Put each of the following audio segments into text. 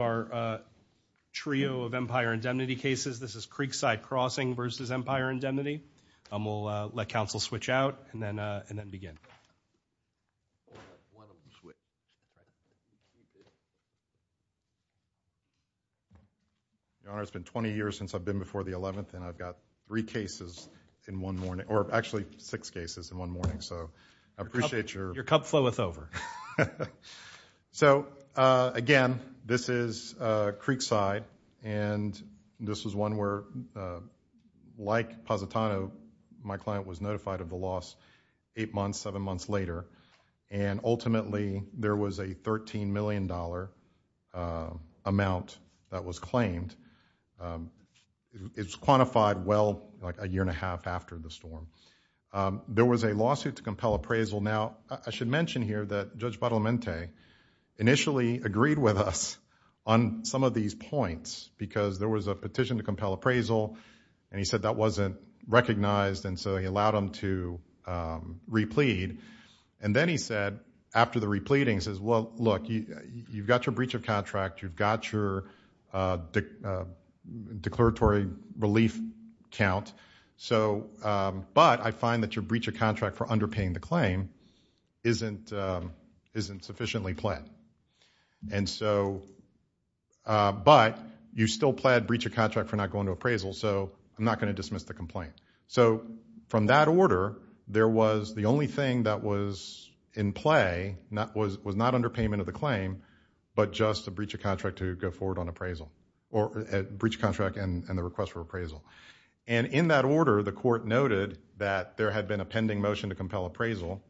of our trio of Empire Indemnity cases. This is Creekside Crossing v. Empire Indemnity. We'll let counsel switch out and then begin. Your Honor, it's been 20 years since I've been before the 11th and I've got three cases in one morning, or actually six cases in one morning, so I appreciate your- Your cup floweth over. So, again, this is Creekside and this was one where, like Positano, my client was notified of the loss eight months, seven months later, and ultimately there was a $13 million amount that was claimed. It's quantified well, like a year and a half after the storm. There was a lawsuit to compel appraisal. Now, I should mention here that Judge Badalamente initially agreed with us on some of these points because there was a petition to compel appraisal and he said that wasn't recognized and so he allowed them to replead. And then he said, after the repleading, he says, well, look, you've got your breach of contract, you've got your declaratory relief count, but I find that your breach of contract for underpaying the claim isn't sufficiently pled. And so, but you still pled breach of contract for not going to appraisal, so I'm not going to dismiss the complaint. So, from that order, there was the only thing that was in play, was not underpayment of the claim, but just a breach of contract to go forward on appraisal, or a breach of contract and the request for appraisal. And in that order, the court noted that there had been a pending motion to compel appraisal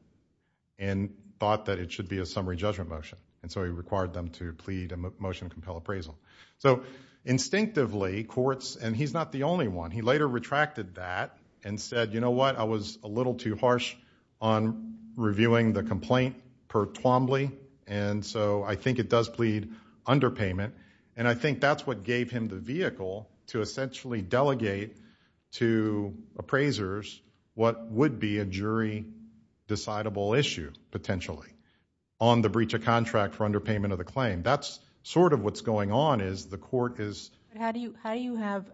and thought that it should be a summary judgment motion and so he required them to plead a motion to compel appraisal. So, instinctively, courts, and he's not the only one, he later retracted that and said, you know what, I was a little too harsh on reviewing the complaint per Twombly and so I think it does plead underpayment and I think that's what gave him the vehicle to essentially delegate to appraisers what would be a jury decidable issue, potentially, on the breach of contract for underpayment of the claim. That's sort of what's going on is the court is. How do you have,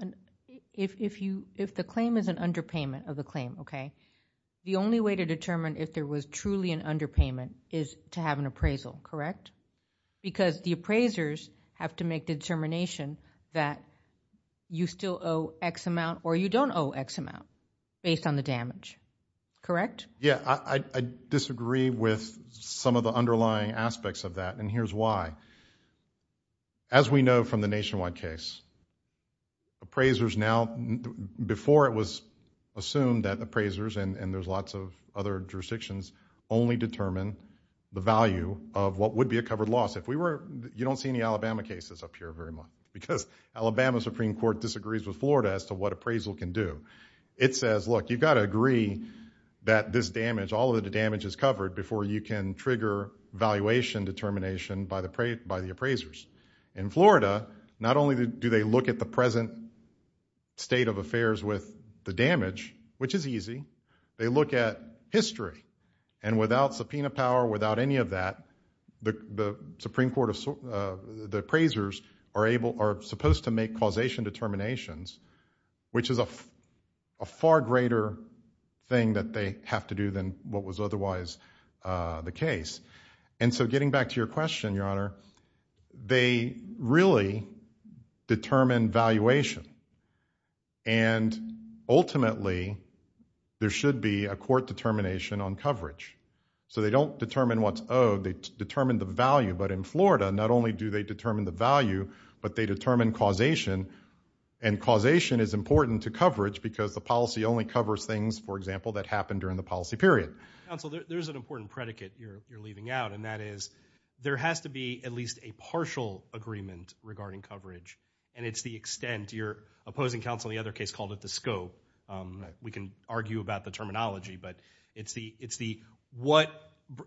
if the claim is an underpayment of the claim, okay, the only way to determine if there was truly an underpayment is to have an appraisal, correct? Because the appraisers have to make determination that you still owe X amount or you don't owe X amount based on the damage, correct? Yeah, I disagree with some of the underlying aspects of that and here's why. As we know from the nationwide case, appraisers now, before it was assumed that appraisers and there's lots of other jurisdictions only determine the value of what would be a covered loss. If we were, you don't see any Alabama cases up here very much because Alabama Supreme Court disagrees with Florida as to what appraisal can do. It says, look, you gotta agree that this damage, all of the damage is covered before you can trigger valuation determination by the appraisers. In Florida, not only do they look at the present state of affairs with the damage, which is easy, they look at history and without subpoena power, without any of that, the Supreme Court appraisers are supposed to make causation determinations, which is a far greater thing that they have to do than what was otherwise the case. And so getting back to your question, Your Honor, they really determine valuation and ultimately, there should be a court determination on coverage. So they don't determine what's owed, they determine the value, but in Florida, not only do they determine the value, but they determine causation and causation is important to coverage because the policy only covers things, for example, that happened during the policy period. Council, there's an important predicate you're leaving out and that is, there has to be at least a partial agreement regarding coverage and it's the extent, your opposing counsel in the other case called it the scope. We can argue about the terminology, but it's the what,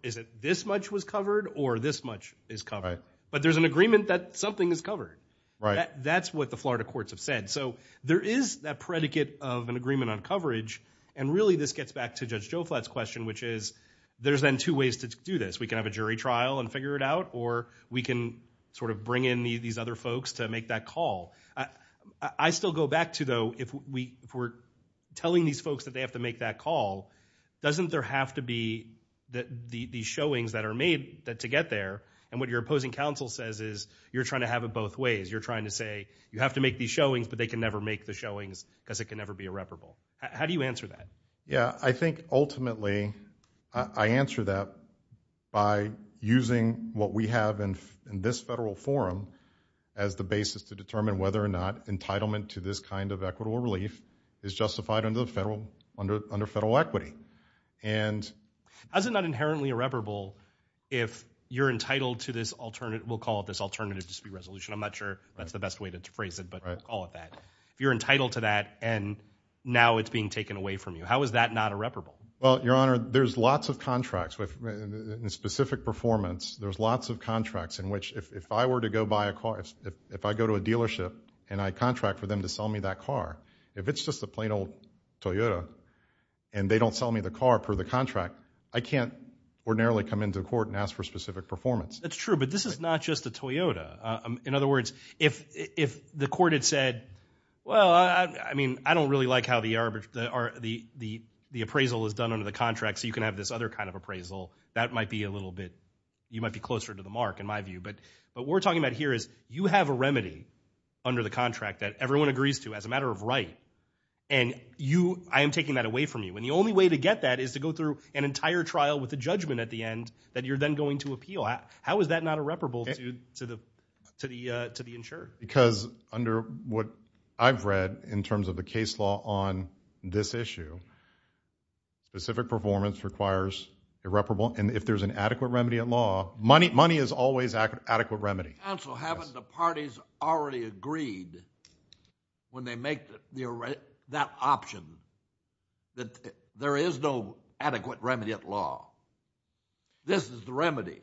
is it this much was covered or this much is covered, but there's an agreement that something is covered. That's what the Florida courts have said. So there is that predicate of an agreement on coverage and really, this gets back to Judge Joe Flatt's question, which is, there's then two ways to do this. We can have a jury trial and figure it out or we can sort of bring in these other folks to make that call. I still go back to though, if we're telling these folks that they have to make that call, doesn't there have to be these showings that are made to get there and what your opposing counsel says is, you're trying to have it both ways. You're trying to say, you have to make these showings, but they can never make the showings because it can never be irreparable. How do you answer that? Yeah, I think ultimately, I answer that by using what we have in this federal forum as the basis to determine whether or not entitlement to this kind of equitable relief is justified under federal equity. Is it not inherently irreparable if you're entitled to this alternative, we'll call it this alternative dispute resolution. I'm not sure that's the best way to phrase it, but we'll call it that. If you're entitled to that and now it's being taken away from you, how is that not irreparable? Well, Your Honor, there's lots of contracts with specific performance. There's lots of contracts in which, if I were to go buy a car, if I go to a dealership and I contract for them to sell me that car, if it's just a plain old Toyota and they don't sell me the car per the contract, I can't ordinarily come into court and ask for specific performance. That's true, but this is not just a Toyota. In other words, if the court had said, well, I mean, I don't really like how the appraisal is done under the contract, so you can have this other kind of appraisal, that might be a little bit, you might be closer to the mark, in my view. But what we're talking about here is you have a remedy under the contract that everyone agrees to as a matter of right, and I am taking that away from you. And the only way to get that is to go through an entire trial with a judgment at the end that you're then going to appeal. How is that not irreparable to the insured? Because under what I've read in terms of the case law on this issue, specific performance requires irreparable, and if there's an adequate remedy at law, money is always adequate remedy. Counsel, haven't the parties already agreed when they make that option that there is no adequate remedy at law? This is the remedy.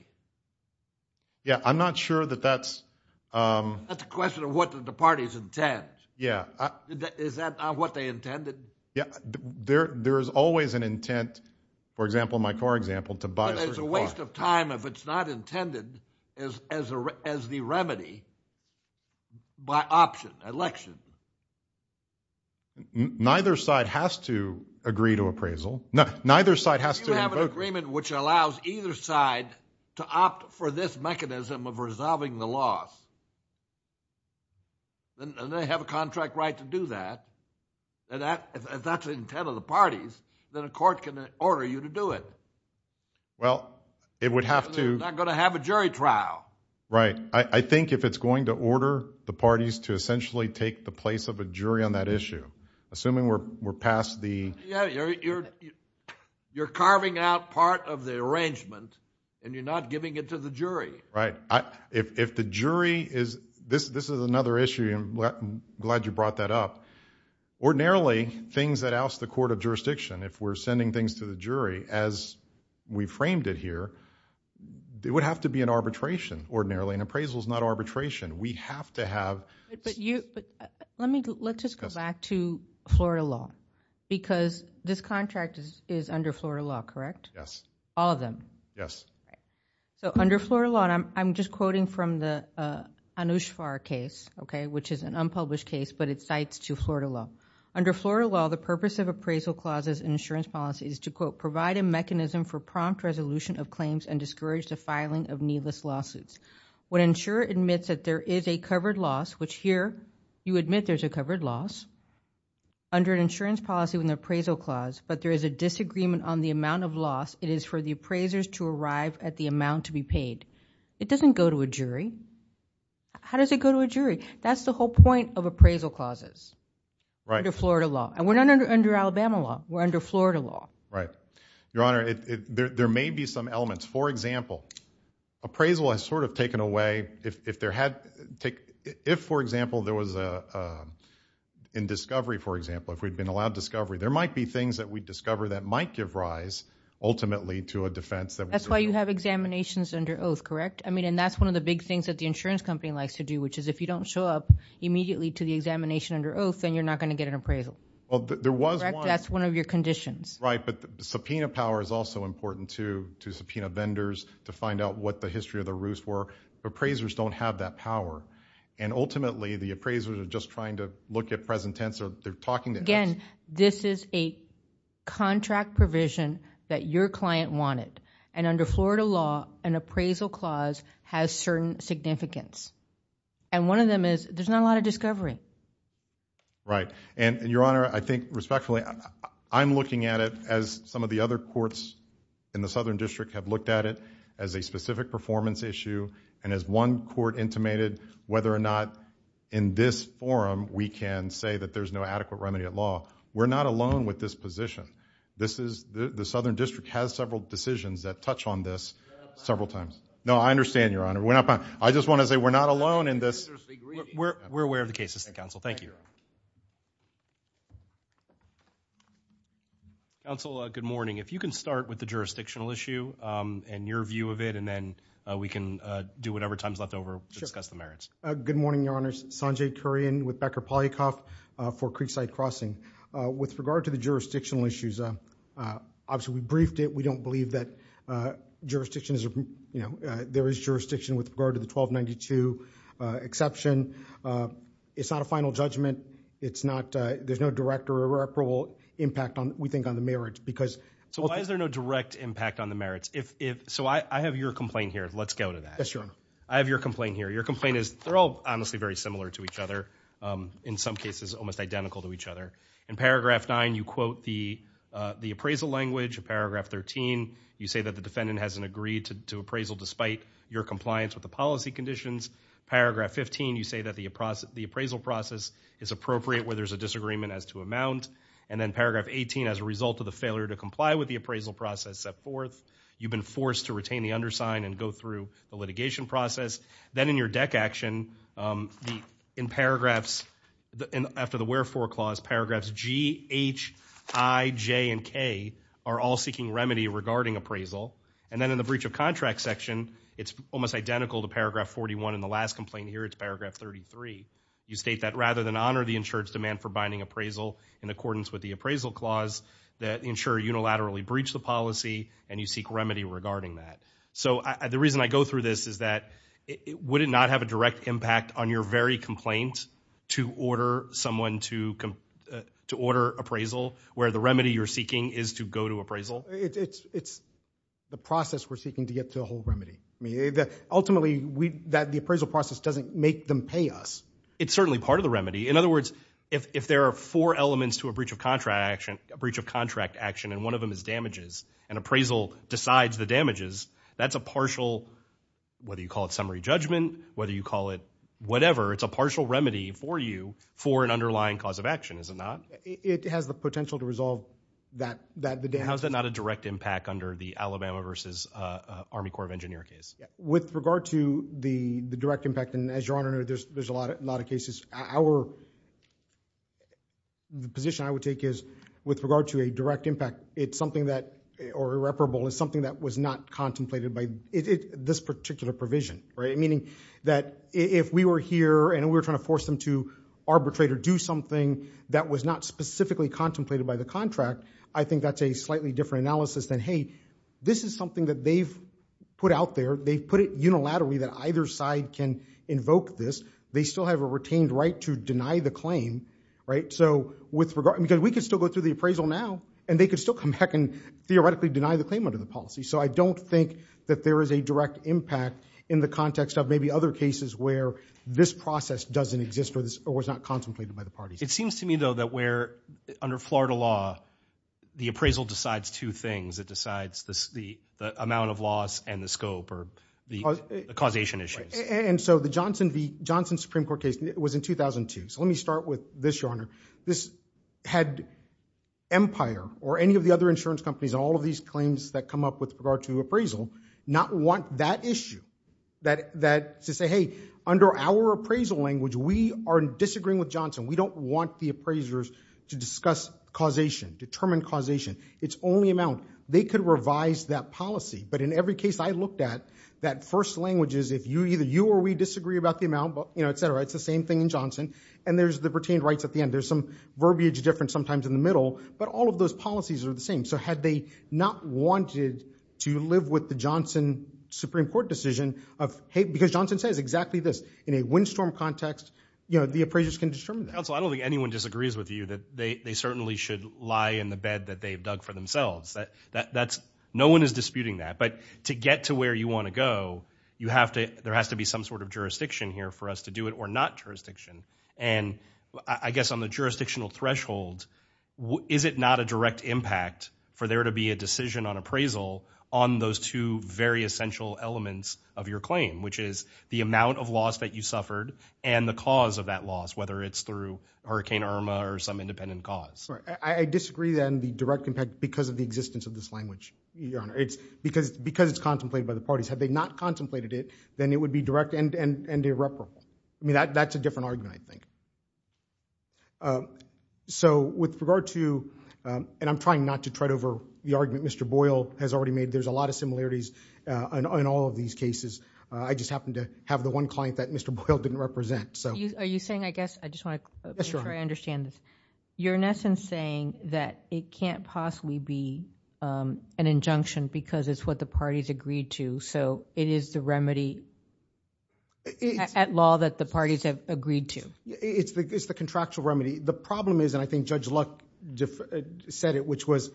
Yeah, I'm not sure that that's... That's a question of what the parties intend. Yeah. Is that not what they intended? Yeah, there is always an intent, for example, in my core example, to buy a certain product. But it's a waste of time if it's not intended as the remedy by option, election. Neither side has to agree to appraisal. No, neither side has to vote. If you have an agreement which allows either side to opt for this mechanism of resolving the loss, then they have a contract right to do that. And if that's the intent of the parties, then a court can order you to do it. Well, it would have to... It's a jury trial. Right, I think if it's going to order the parties to essentially take the place of a jury on that issue, assuming we're past the... Yeah, you're carving out part of the arrangement and you're not giving it to the jury. Right, if the jury is... This is another issue, and I'm glad you brought that up. Ordinarily, things that oust the court of jurisdiction, if we're sending things to the jury as we framed it here, it would have to be an arbitration, ordinarily. An appraisal is not arbitration. We have to have... Let's just go back to Florida law, because this contract is under Florida law, correct? Yes. All of them? Yes. So under Florida law, and I'm just quoting from the Anushvar case, which is an unpublished case, but it cites to Florida law. Under Florida law, the purpose of appraisal clauses in insurance policy is to, quote, and discourage the filing of needless lawsuits. When an insurer admits that there is a covered loss, which here, you admit there's a covered loss, under an insurance policy with an appraisal clause, but there is a disagreement on the amount of loss it is for the appraisers to arrive at the amount to be paid, it doesn't go to a jury. How does it go to a jury? That's the whole point of appraisal clauses. Right. Under Florida law. And we're not under Alabama law. We're under Florida law. Right. Your Honor, there may be some elements. For example, appraisal has sort of taken away, if there had, if, for example, there was a, in discovery, for example, if we'd been allowed discovery, there might be things that we'd discover that might give rise, ultimately, to a defense that would- That's why you have examinations under oath, correct? I mean, and that's one of the big things that the insurance company likes to do, which is if you don't show up immediately to the examination under oath, then you're not gonna get an appraisal. Well, there was one- Correct? That's one of your conditions. Right, but the subpoena power is also important, too, to subpoena vendors, to find out what the history of the roost were. Appraisers don't have that power. And ultimately, the appraisers are just trying to look at present tense, or they're talking to- Again, this is a contract provision that your client wanted. And under Florida law, an appraisal clause has certain significance. And one of them is, there's not a lot of discovery. Right. And, Your Honor, I think, respectfully, I'm looking at it as some of the other courts in the Southern District have looked at it as a specific performance issue, and as one court intimated, whether or not, in this forum, we can say that there's no adequate remedy at law. We're not alone with this position. The Southern District has several decisions that touch on this several times. No, I understand, Your Honor, we're not, I just wanna say, we're not alone in this. We're aware of the cases, Counsel, thank you. Counsel, good morning. If you can start with the jurisdictional issue, and your view of it, and then we can do whatever time's left over to discuss the merits. Good morning, Your Honors, Sanjay Kurian with Becker Polycom for Creekside Crossing. With regard to the jurisdictional issues, obviously, we briefed it, we don't believe that jurisdiction is, there is jurisdiction with regard to the 1292 exception. It's not a final judgment, it's not, there's no direct or irreparable impact, we think, on the merits, because. So why is there no direct impact on the merits? So I have your complaint here, let's go to that. Yes, Your Honor. I have your complaint here. Your complaint is, they're all, honestly, very similar to each other. In some cases, almost identical to each other. In paragraph nine, you quote the appraisal language. In paragraph 13, you say that the defendant hasn't agreed to appraisal despite your compliance with the policy conditions. Paragraph 15, you say that the appraisal process is appropriate where there's a disagreement as to amount. And then paragraph 18, as a result of the failure to comply with the appraisal process set forth, you've been forced to retain the undersign and go through the litigation process. Then in your deck action, in paragraphs, after the wherefore clause, paragraphs G, H, I, J, and K are all seeking remedy regarding appraisal. And then in the breach of contract section, it's almost identical to paragraph 41 in the last complaint here, it's paragraph 33. You state that rather than honor the insured's demand for binding appraisal in accordance with the appraisal clause that insure unilaterally breach the policy and you seek remedy regarding that. So the reason I go through this is that would it not have a direct impact on your very complaint to order someone to order appraisal where the remedy you're seeking is to go to appraisal? It's the process we're seeking to get to a whole remedy. Ultimately, the appraisal process doesn't make them pay us. It's certainly part of the remedy. In other words, if there are four elements to a breach of contract action, and one of them is damages, and appraisal decides the damages, that's a partial, whether you call it summary judgment, whether you call it whatever, it's a partial remedy for you for an underlying cause of action, is it not? It has the potential to resolve the damage. How's that not a direct impact under the Alabama versus Army Corps of Engineers case? With regard to the direct impact, and as Your Honor, there's a lot of cases. Our, the position I would take is with regard to a direct impact, it's something that, or irreparable, is something that was not contemplated by this particular provision, right? Meaning that if we were here and we were trying to force them to arbitrate or do something that was not specifically contemplated by the contract, I think that's a slightly different analysis than, hey, this is something that they've put out there, they've put it unilaterally that either side can invoke this. They still have a retained right to deny the claim, right? So with regard, because we could still go through the appraisal now, and they could still come back and theoretically deny the claim under the policy. So I don't think that there is a direct impact in the context of maybe other cases where this process doesn't exist or was not contemplated by the parties. It seems to me, though, that where, under Florida law, the appraisal decides two things. It decides the amount of loss and the scope, the causation issues. And so the Johnson Supreme Court case was in 2002. So let me start with this, Your Honor. This had Empire or any of the other insurance companies and all of these claims that come up with regard to appraisal not want that issue, that to say, hey, under our appraisal language, we are disagreeing with Johnson. We don't want the appraisers to discuss causation, determine causation. It's only amount, they could revise that policy. But in every case I looked at, that first language is if either you or we disagree about the amount, et cetera, it's the same thing in Johnson. And there's the pertained rights at the end. There's some verbiage difference sometimes in the middle, but all of those policies are the same. So had they not wanted to live with the Johnson Supreme Court decision of, hey, because Johnson says exactly this. In a windstorm context, the appraisers can determine that. Council, I don't think anyone disagrees with you that they certainly should lie in the bed that they've dug for themselves. That's, no one is disputing that. But to get to where you want to go, you have to, there has to be some sort of jurisdiction here for us to do it or not jurisdiction. And I guess on the jurisdictional threshold, is it not a direct impact for there to be a decision on appraisal on those two very essential elements of your claim, which is the amount of loss that you suffered and the cause of that loss, whether it's through Hurricane Irma or some independent cause. I disagree then the direct impact because of the existence of this language, Your Honor. It's because it's contemplated by the parties. Had they not contemplated it, then it would be direct and irreparable. I mean, that's a different argument, I think. So with regard to, and I'm trying not to tread over the argument Mr. Boyle has already made. There's a lot of similarities in all of these cases. I just happened to have the one client that Mr. Boyle didn't represent. Are you saying, I guess, I just want to make sure I understand this. You're in essence saying that it can't possibly be an injunction because it's what the parties agreed to. So it is the remedy at law that the parties have agreed to. It's the contractual remedy. The problem is, and I think Judge Luck said it, which was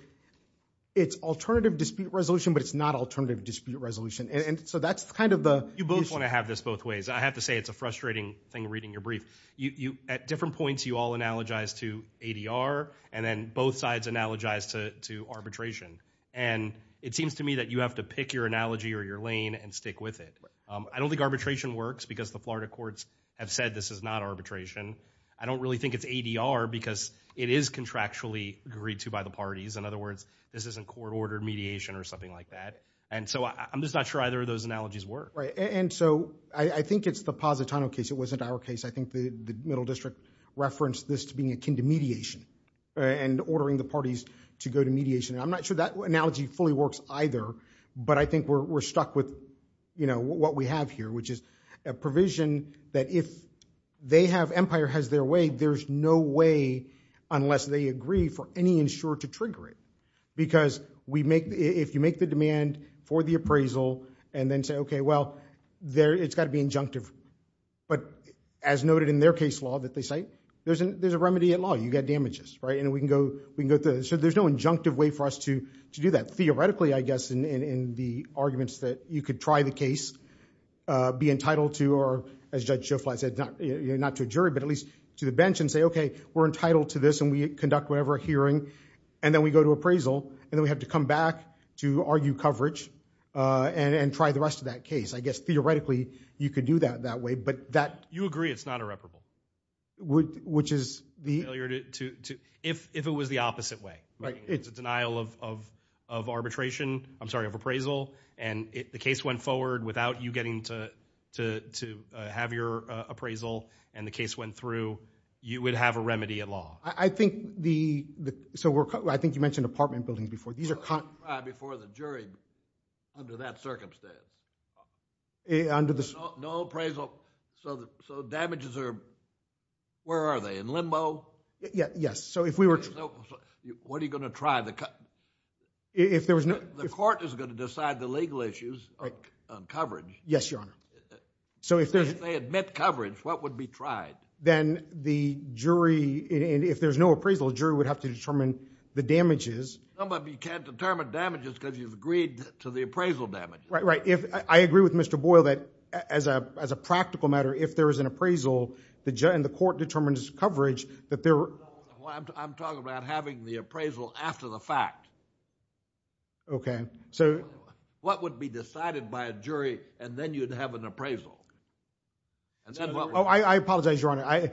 it's alternative dispute resolution, but it's not alternative dispute resolution. And so that's kind of the. You both want to have this both ways. I have to say it's a frustrating thing reading your brief. At different points you all analogize to ADR and then both sides analogize to arbitration. And it seems to me that you have to pick your analogy or your lane and stick with it. I don't think arbitration works because the Florida courts have said this is not arbitration. I don't really think it's ADR because it is contractually agreed to by the parties. In other words, this isn't court ordered mediation or something like that. And so I'm just not sure either of those analogies work. Right, and so I think it's the Positano case. It wasn't our case. I think the Middle District referenced this to being akin to mediation and ordering the parties to go to mediation. I'm not sure that analogy fully works either, but I think we're stuck with what we have here, which is a provision that if Empire has their way, there's no way unless they agree for any insurer to trigger it. Because if you make the demand for the appraisal and then say, OK, well, it's got to be injunctive. But as noted in their case law that they cite, there's a remedy in law. You get damages, right? And we can go through. So there's no injunctive way for us to do that. Theoretically, I guess, in the arguments that you could try the case, be entitled to, or as Judge Schofield said, not to a jury, but at least to the bench and say, OK, we're entitled to this and we conduct whatever hearing. And then we go to appraisal and then we have to come back to argue coverage and try the rest of that case. I guess, theoretically, you could do that that way. But that. You agree it's not irreparable. Which is the. If it was the opposite way. It's a denial of arbitration. I'm sorry, of appraisal. And if the case went forward without you getting to have your appraisal and the case went through, you would have a remedy at law. I think the. So I think you mentioned apartment buildings before. Before the jury, under that circumstance. Under the. No appraisal. So the damages are. Where are they in limbo? Yes. So if we were. What are you going to try the. If there was no court is going to decide the legal issues of coverage. Yes, Your Honor. So if they admit coverage, what would be tried? Then the jury, if there's no appraisal, a jury would have to determine the damages. Some of you can't determine damages because you've agreed to the appraisal damage. Right, right. I agree with Mr. Boyle that as a practical matter, if there is an appraisal and the court determines coverage. I'm talking about having the appraisal after the fact. OK, so. What would be decided by a jury and then you'd have an appraisal? I apologize, Your Honor.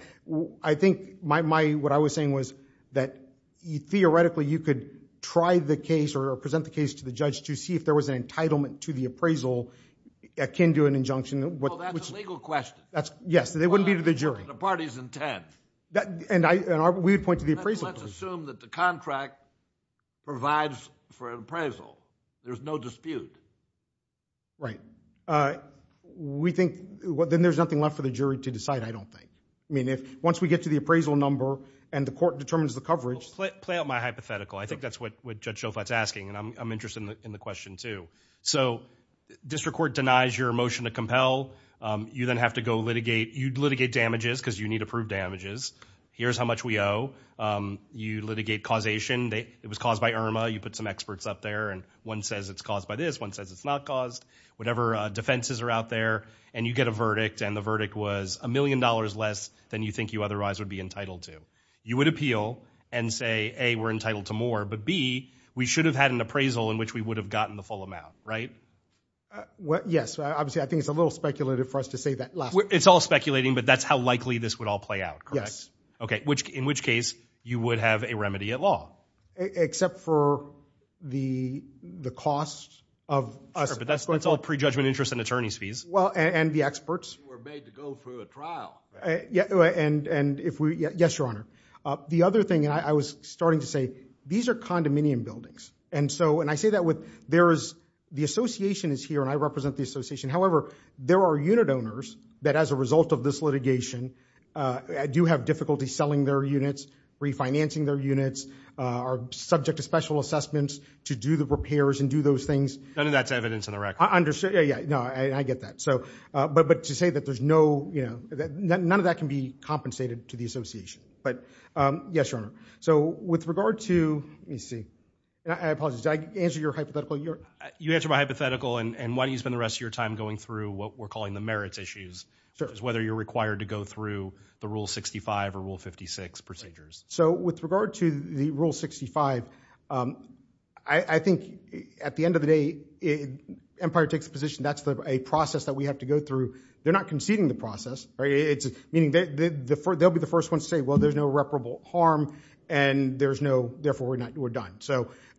I think what I was saying was that theoretically, you could try the case or present the case to the judge to see if there was an entitlement to the appraisal akin to an injunction. Well, that's a legal question. Yes, they wouldn't be to the jury. The party's intent. And we would point to the appraisal. Let's assume that the contract provides for an appraisal. There's no dispute. Right. We think, well, then there's nothing left for the jury to decide, I don't think. I mean, once we get to the appraisal number and the court determines the coverage. Play out my hypothetical. I think that's what Judge Shofat's asking. And I'm interested in the question, too. So district court denies your motion to compel. You then have to go litigate. You'd litigate damages because you need approved damages. Here's how much we owe. You litigate causation. It was caused by Irma. You put some experts up there. And one says it's caused by this. One says it's not caused. Whatever defenses are out there. And you get a verdict. And the verdict was a million dollars less than you think you otherwise would be entitled to. You would appeal and say, A, we're entitled to more. But B, we should have had an appraisal in which we would have gotten the full amount, right? Yes. Obviously, I think it's a little speculative for us to say that last. It's all speculating. But that's how likely this would all play out, correct? Yes. OK. In which case, you would have a remedy at law. Except for the cost of us. Sure. But that's all prejudgment interest and attorney's fees. And the experts. You were made to go through a trial. And if we, yes, your honor. The other thing, and I was starting to say, these are condominium buildings. And so, and I say that with, there is, the association is here, and I represent the association. However, there are unit owners that as a result of this litigation, do have difficulty selling their units, refinancing their units, are subject to special assessments to do the repairs and do those things. None of that's evidence in the record. Yeah, yeah, no, I get that. But to say that there's no, none of that can be compensated to the association. But, yes, your honor. So with regard to, let me see, I apologize. Did I answer your hypothetical? You answered my hypothetical. And why don't you spend the rest of your time going through what we're calling the merits issues. Because whether you're required to go through the Rule 65 or Rule 56 procedures. So with regard to the Rule 65, I think at the end of the day, Empire takes a position that's a process that we have to go through. They're not conceding the process. Meaning they'll be the first one to say, well, there's no reparable harm, and therefore we're done.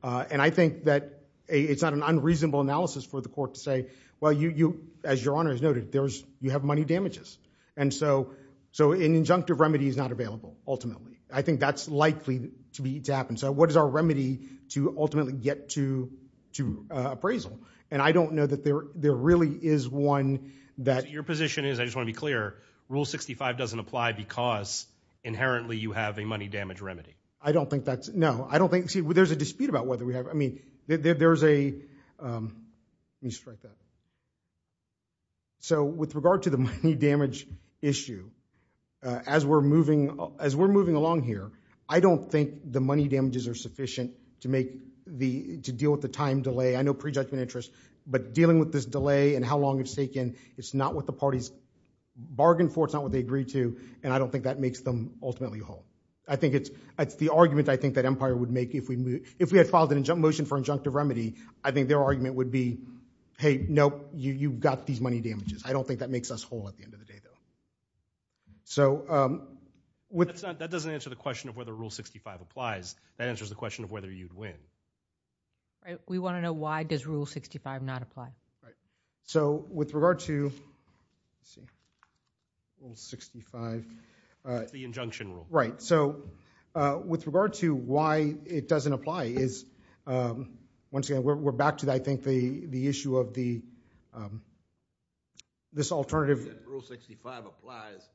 And I think that it's not an unreasonable analysis for the court to say, well, as your honor has noted, you have money damages. And so an injunctive remedy is not available, ultimately. I think that's likely to happen. So what is our remedy to ultimately get to appraisal? And I don't know that there really is one that. Your position is, I just want to be clear, Rule 65 doesn't apply because inherently you have a money damage remedy. I don't think that's, no. I don't think, see, there's a dispute about whether we have, I mean, there's a, let me just write that. So with regard to the money damage issue, as we're moving along here, I don't think the money damages are sufficient to deal with the time delay. I know prejudgment interests. But dealing with this delay and how long it's taken, it's not what the parties bargained for. It's not what they agreed to. And I don't think that makes them ultimately whole. I think it's the argument, I think, that Empire would make if we had filed an injunctive motion for injunctive remedy. I think their argument would be, hey, nope, you've got these money damages. I don't think that makes us whole at the end of the day, though. So with that. That doesn't answer the question of whether Rule 65 applies. That answers the question of whether you'd win. We want to know, why does Rule 65 not apply? So with regard to Rule 65... The injunction rule. Right. So with regard to why it doesn't apply is, once again, we're back to, I think, the issue of this alternative... Rule 65 applies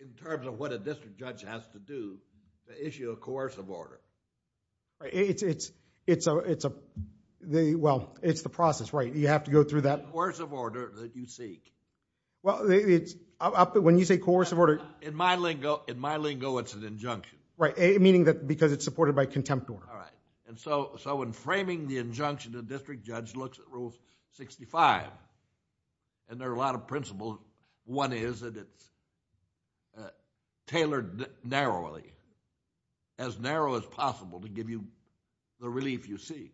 in terms of what a district judge has to do, the issue of coercive order. It's the process, right? You have to go through that... Coercive order that you seek. Well, when you say coercive order... In my lingo, it's an injunction. Right, meaning because it's supported by contempt order. All right. And so in framing the injunction, the district judge looks at Rule 65. And there are a lot of principles. One is that it's tailored narrowly, as narrow as possible, to give you the relief you seek.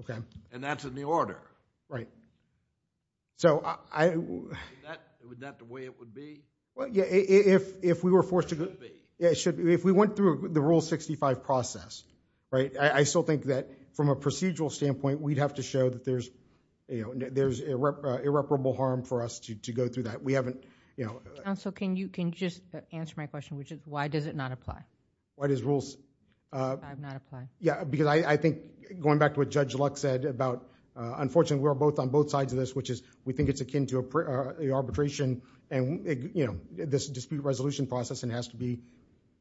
Okay. And that's in the order. Right. So I... Is that the way it would be? Well, yeah, if we were forced to... It should be. Yeah, it should be. If we went through the Rule 65 process, right, I still think that from a procedural standpoint, we'd have to show that there's irreparable harm for us to go through that. We haven't, you know... Counsel, can you just answer my question, which is why does it not apply? Why does rules... Not apply. Yeah, because I think going back to what Judge Luck said about unfortunately we're both on both sides of this, which is we think it's akin to a arbitration and this dispute resolution process, and it has to be...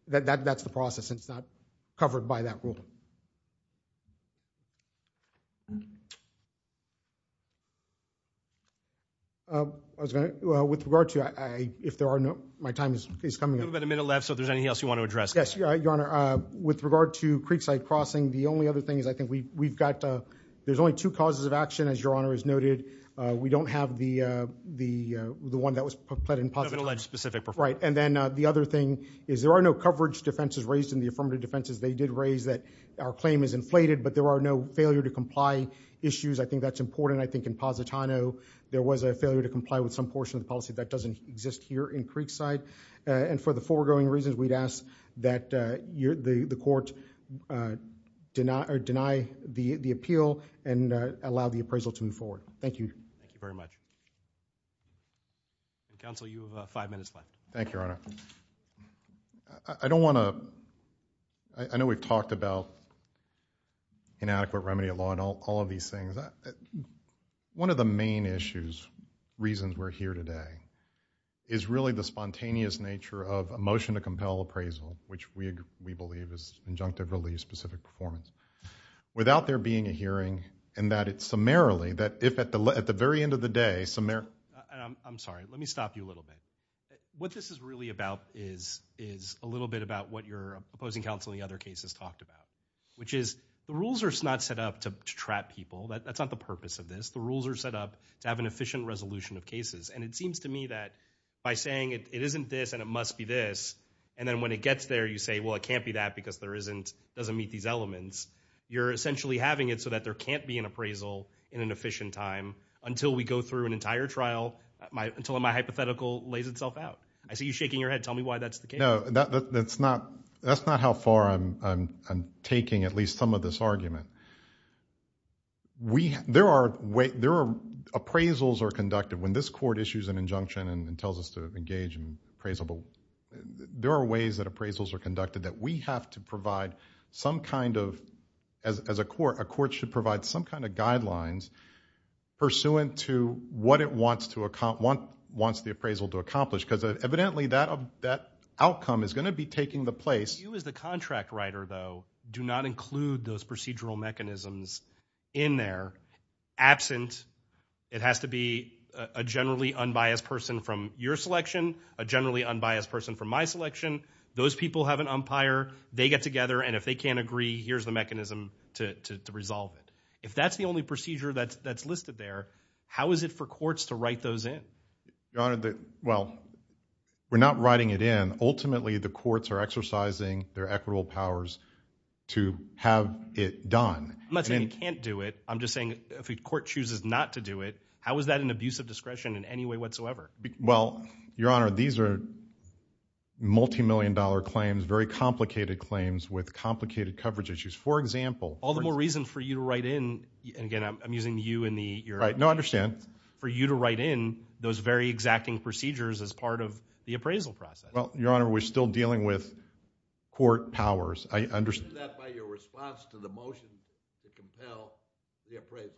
That's the process, and it's not covered by that rule. I was going to... With regard to... If there are no... My time is coming up. We've got about a minute left, so if there's anything else you want to address... Yes, Your Honor. With regard to Creekside Crossing, the only other thing is I think we've got... There's only two causes of action, as Your Honor has noted. We don't have the one that was pleaded in Positano. No alleged specific performance. Right, and then the other thing is there are no coverage defenses raised in the affirmative defenses. They did raise that our claim is inflated, but there are no failure to comply issues. I think that's important. I think in Positano, there was a failure to comply with some portion of the policy that doesn't exist here in Creekside, and for the foregoing reasons, we'd ask that the court deny the appeal and allow the appraisal to move forward. Thank you. Thank you very much. Counsel, you have five minutes left. Thank you, Your Honor. I don't want to... I know we've talked about inadequate remedy of law and all of these things. One of the main issues, reasons we're here today, is really the spontaneous nature of a motion to compel appraisal, which we believe is injunctive relief specific performance, without there being a hearing, and that it's summarily, that if at the very end of the day... I'm sorry. Let me stop you a little bit. What this is really about is a little bit about what your opposing counsel in the other cases talked about, which is the rules are not set up to trap people. That's not the purpose of this. The rules are set up to have an efficient resolution of cases, and it seems to me that, by saying it isn't this and it must be this, and then when it gets there, you say, well, it can't be that because it doesn't meet these elements you're essentially having it so that there can't be an appraisal in an efficient time until we go through an entire trial, until my hypothetical lays itself out. I see you shaking your head. Tell me why that's the case. No, that's not how far I'm taking at least some of this argument. There are, appraisals are conducted. When this court issues an injunction and tells us to engage in appraisal, there are ways that appraisals are conducted that we have to provide some kind of, as a court, a court should provide some kind of guidelines pursuant to what it wants the appraisal to accomplish, because evidently that outcome is gonna be taking the place. You as the contract writer, though, do not include those procedural mechanisms in there. Absent, it has to be a generally unbiased person from your selection, a generally unbiased person from my selection. Those people have an umpire. They get together, and if they can't agree, here's the mechanism to resolve it. If that's the only procedure that's listed there, how is it for courts to write those in? Your Honor, well, we're not writing it in. Ultimately, the courts are exercising their equitable powers to have it done. I'm not saying you can't do it. I'm just saying if a court chooses not to do it, how is that an abuse of discretion in any way whatsoever? Well, Your Honor, these are multimillion-dollar claims, very complicated claims with complicated coverage issues. For example- All the more reason for you to write in, and again, I'm using you in the- Right, no, I understand. For you to write in those very exacting procedures as part of the appraisal process. Well, Your Honor, we're still dealing with court powers. I understand- Do that by your response to the motion to compel the appraisal.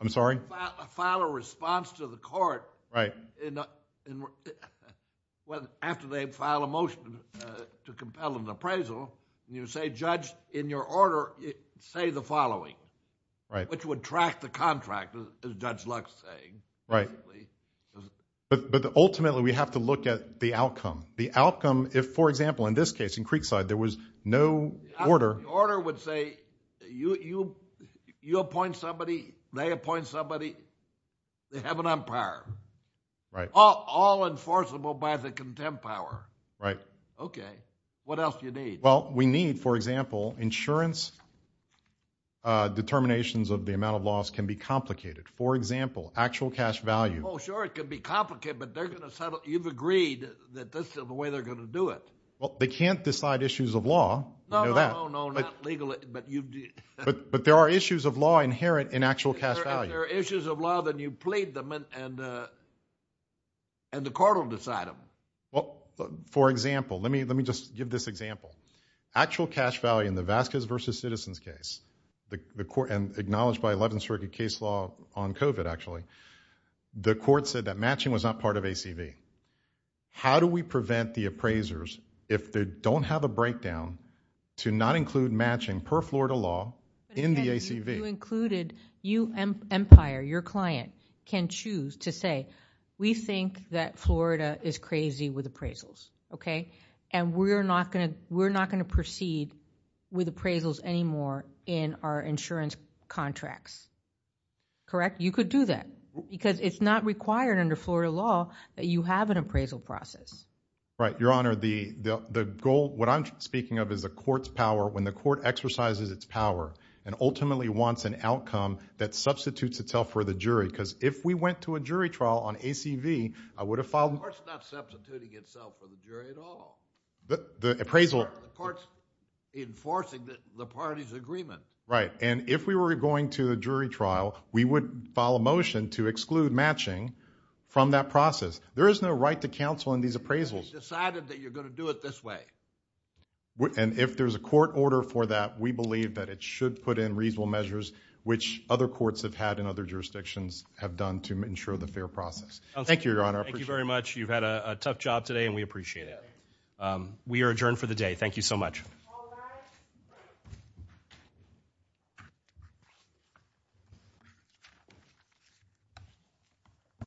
I'm sorry? File a response to the court. Right. After they file a motion to compel an appraisal, you say, Judge, in your order, say the following. Right. Which would track the contract, as Judge Lux is saying. Right. But ultimately, we have to look at the outcome. The outcome, if, for example, in this case, in Creekside, there was no order- The order would say, you appoint somebody, they appoint somebody, they have an umpire. Right. All enforceable by the contempt power. Right. Okay. What else do you need? Well, we need, for example, insurance determinations of the amount of loss can be complicated. For example, actual cash value- Well, sure, it could be complicated, but they're gonna settle, you've agreed that this is the way they're gonna do it. Well, they can't decide issues of law, you know that. No, no, no, not legally, but you- But there are issues of law inherent in actual cash value. If there are issues of law, then you plead them and the court will decide them. Well, for example, let me just give this example. Actual cash value in the Vasquez versus Citizens case, the court, and acknowledged by 11th Circuit case law on COVID, actually, the court said that matching was not part of ACV. How do we prevent the appraisers, if they don't have a breakdown, to not include matching per Florida law in the ACV? You included, you, umpire, your client, can choose to say, we think that Florida is crazy with appraisals, okay? And we're not gonna proceed with appraisals anymore in our insurance contracts, correct? You could do that, because it's not required under Florida law that you have an appraisal process. Right, Your Honor, the goal, what I'm speaking of is the court's power, when the court exercises its power and ultimately wants an outcome that substitutes itself for the jury, because if we went to a jury trial on ACV, I would have filed- The court's not substituting itself for the jury at all. The appraisal- The court's enforcing the party's agreement. Right, and if we were going to a jury trial, we would file a motion to exclude matching from that process. There is no right to counsel in these appraisals. We've decided that you're gonna do it this way. And if there's a court order for that, we believe that it should put in reasonable measures, which other courts have had in other jurisdictions have done to ensure the fair process. Thank you, Your Honor. Thank you very much. You've had a tough job today, and we appreciate it. We are adjourned for the day. Thank you so much.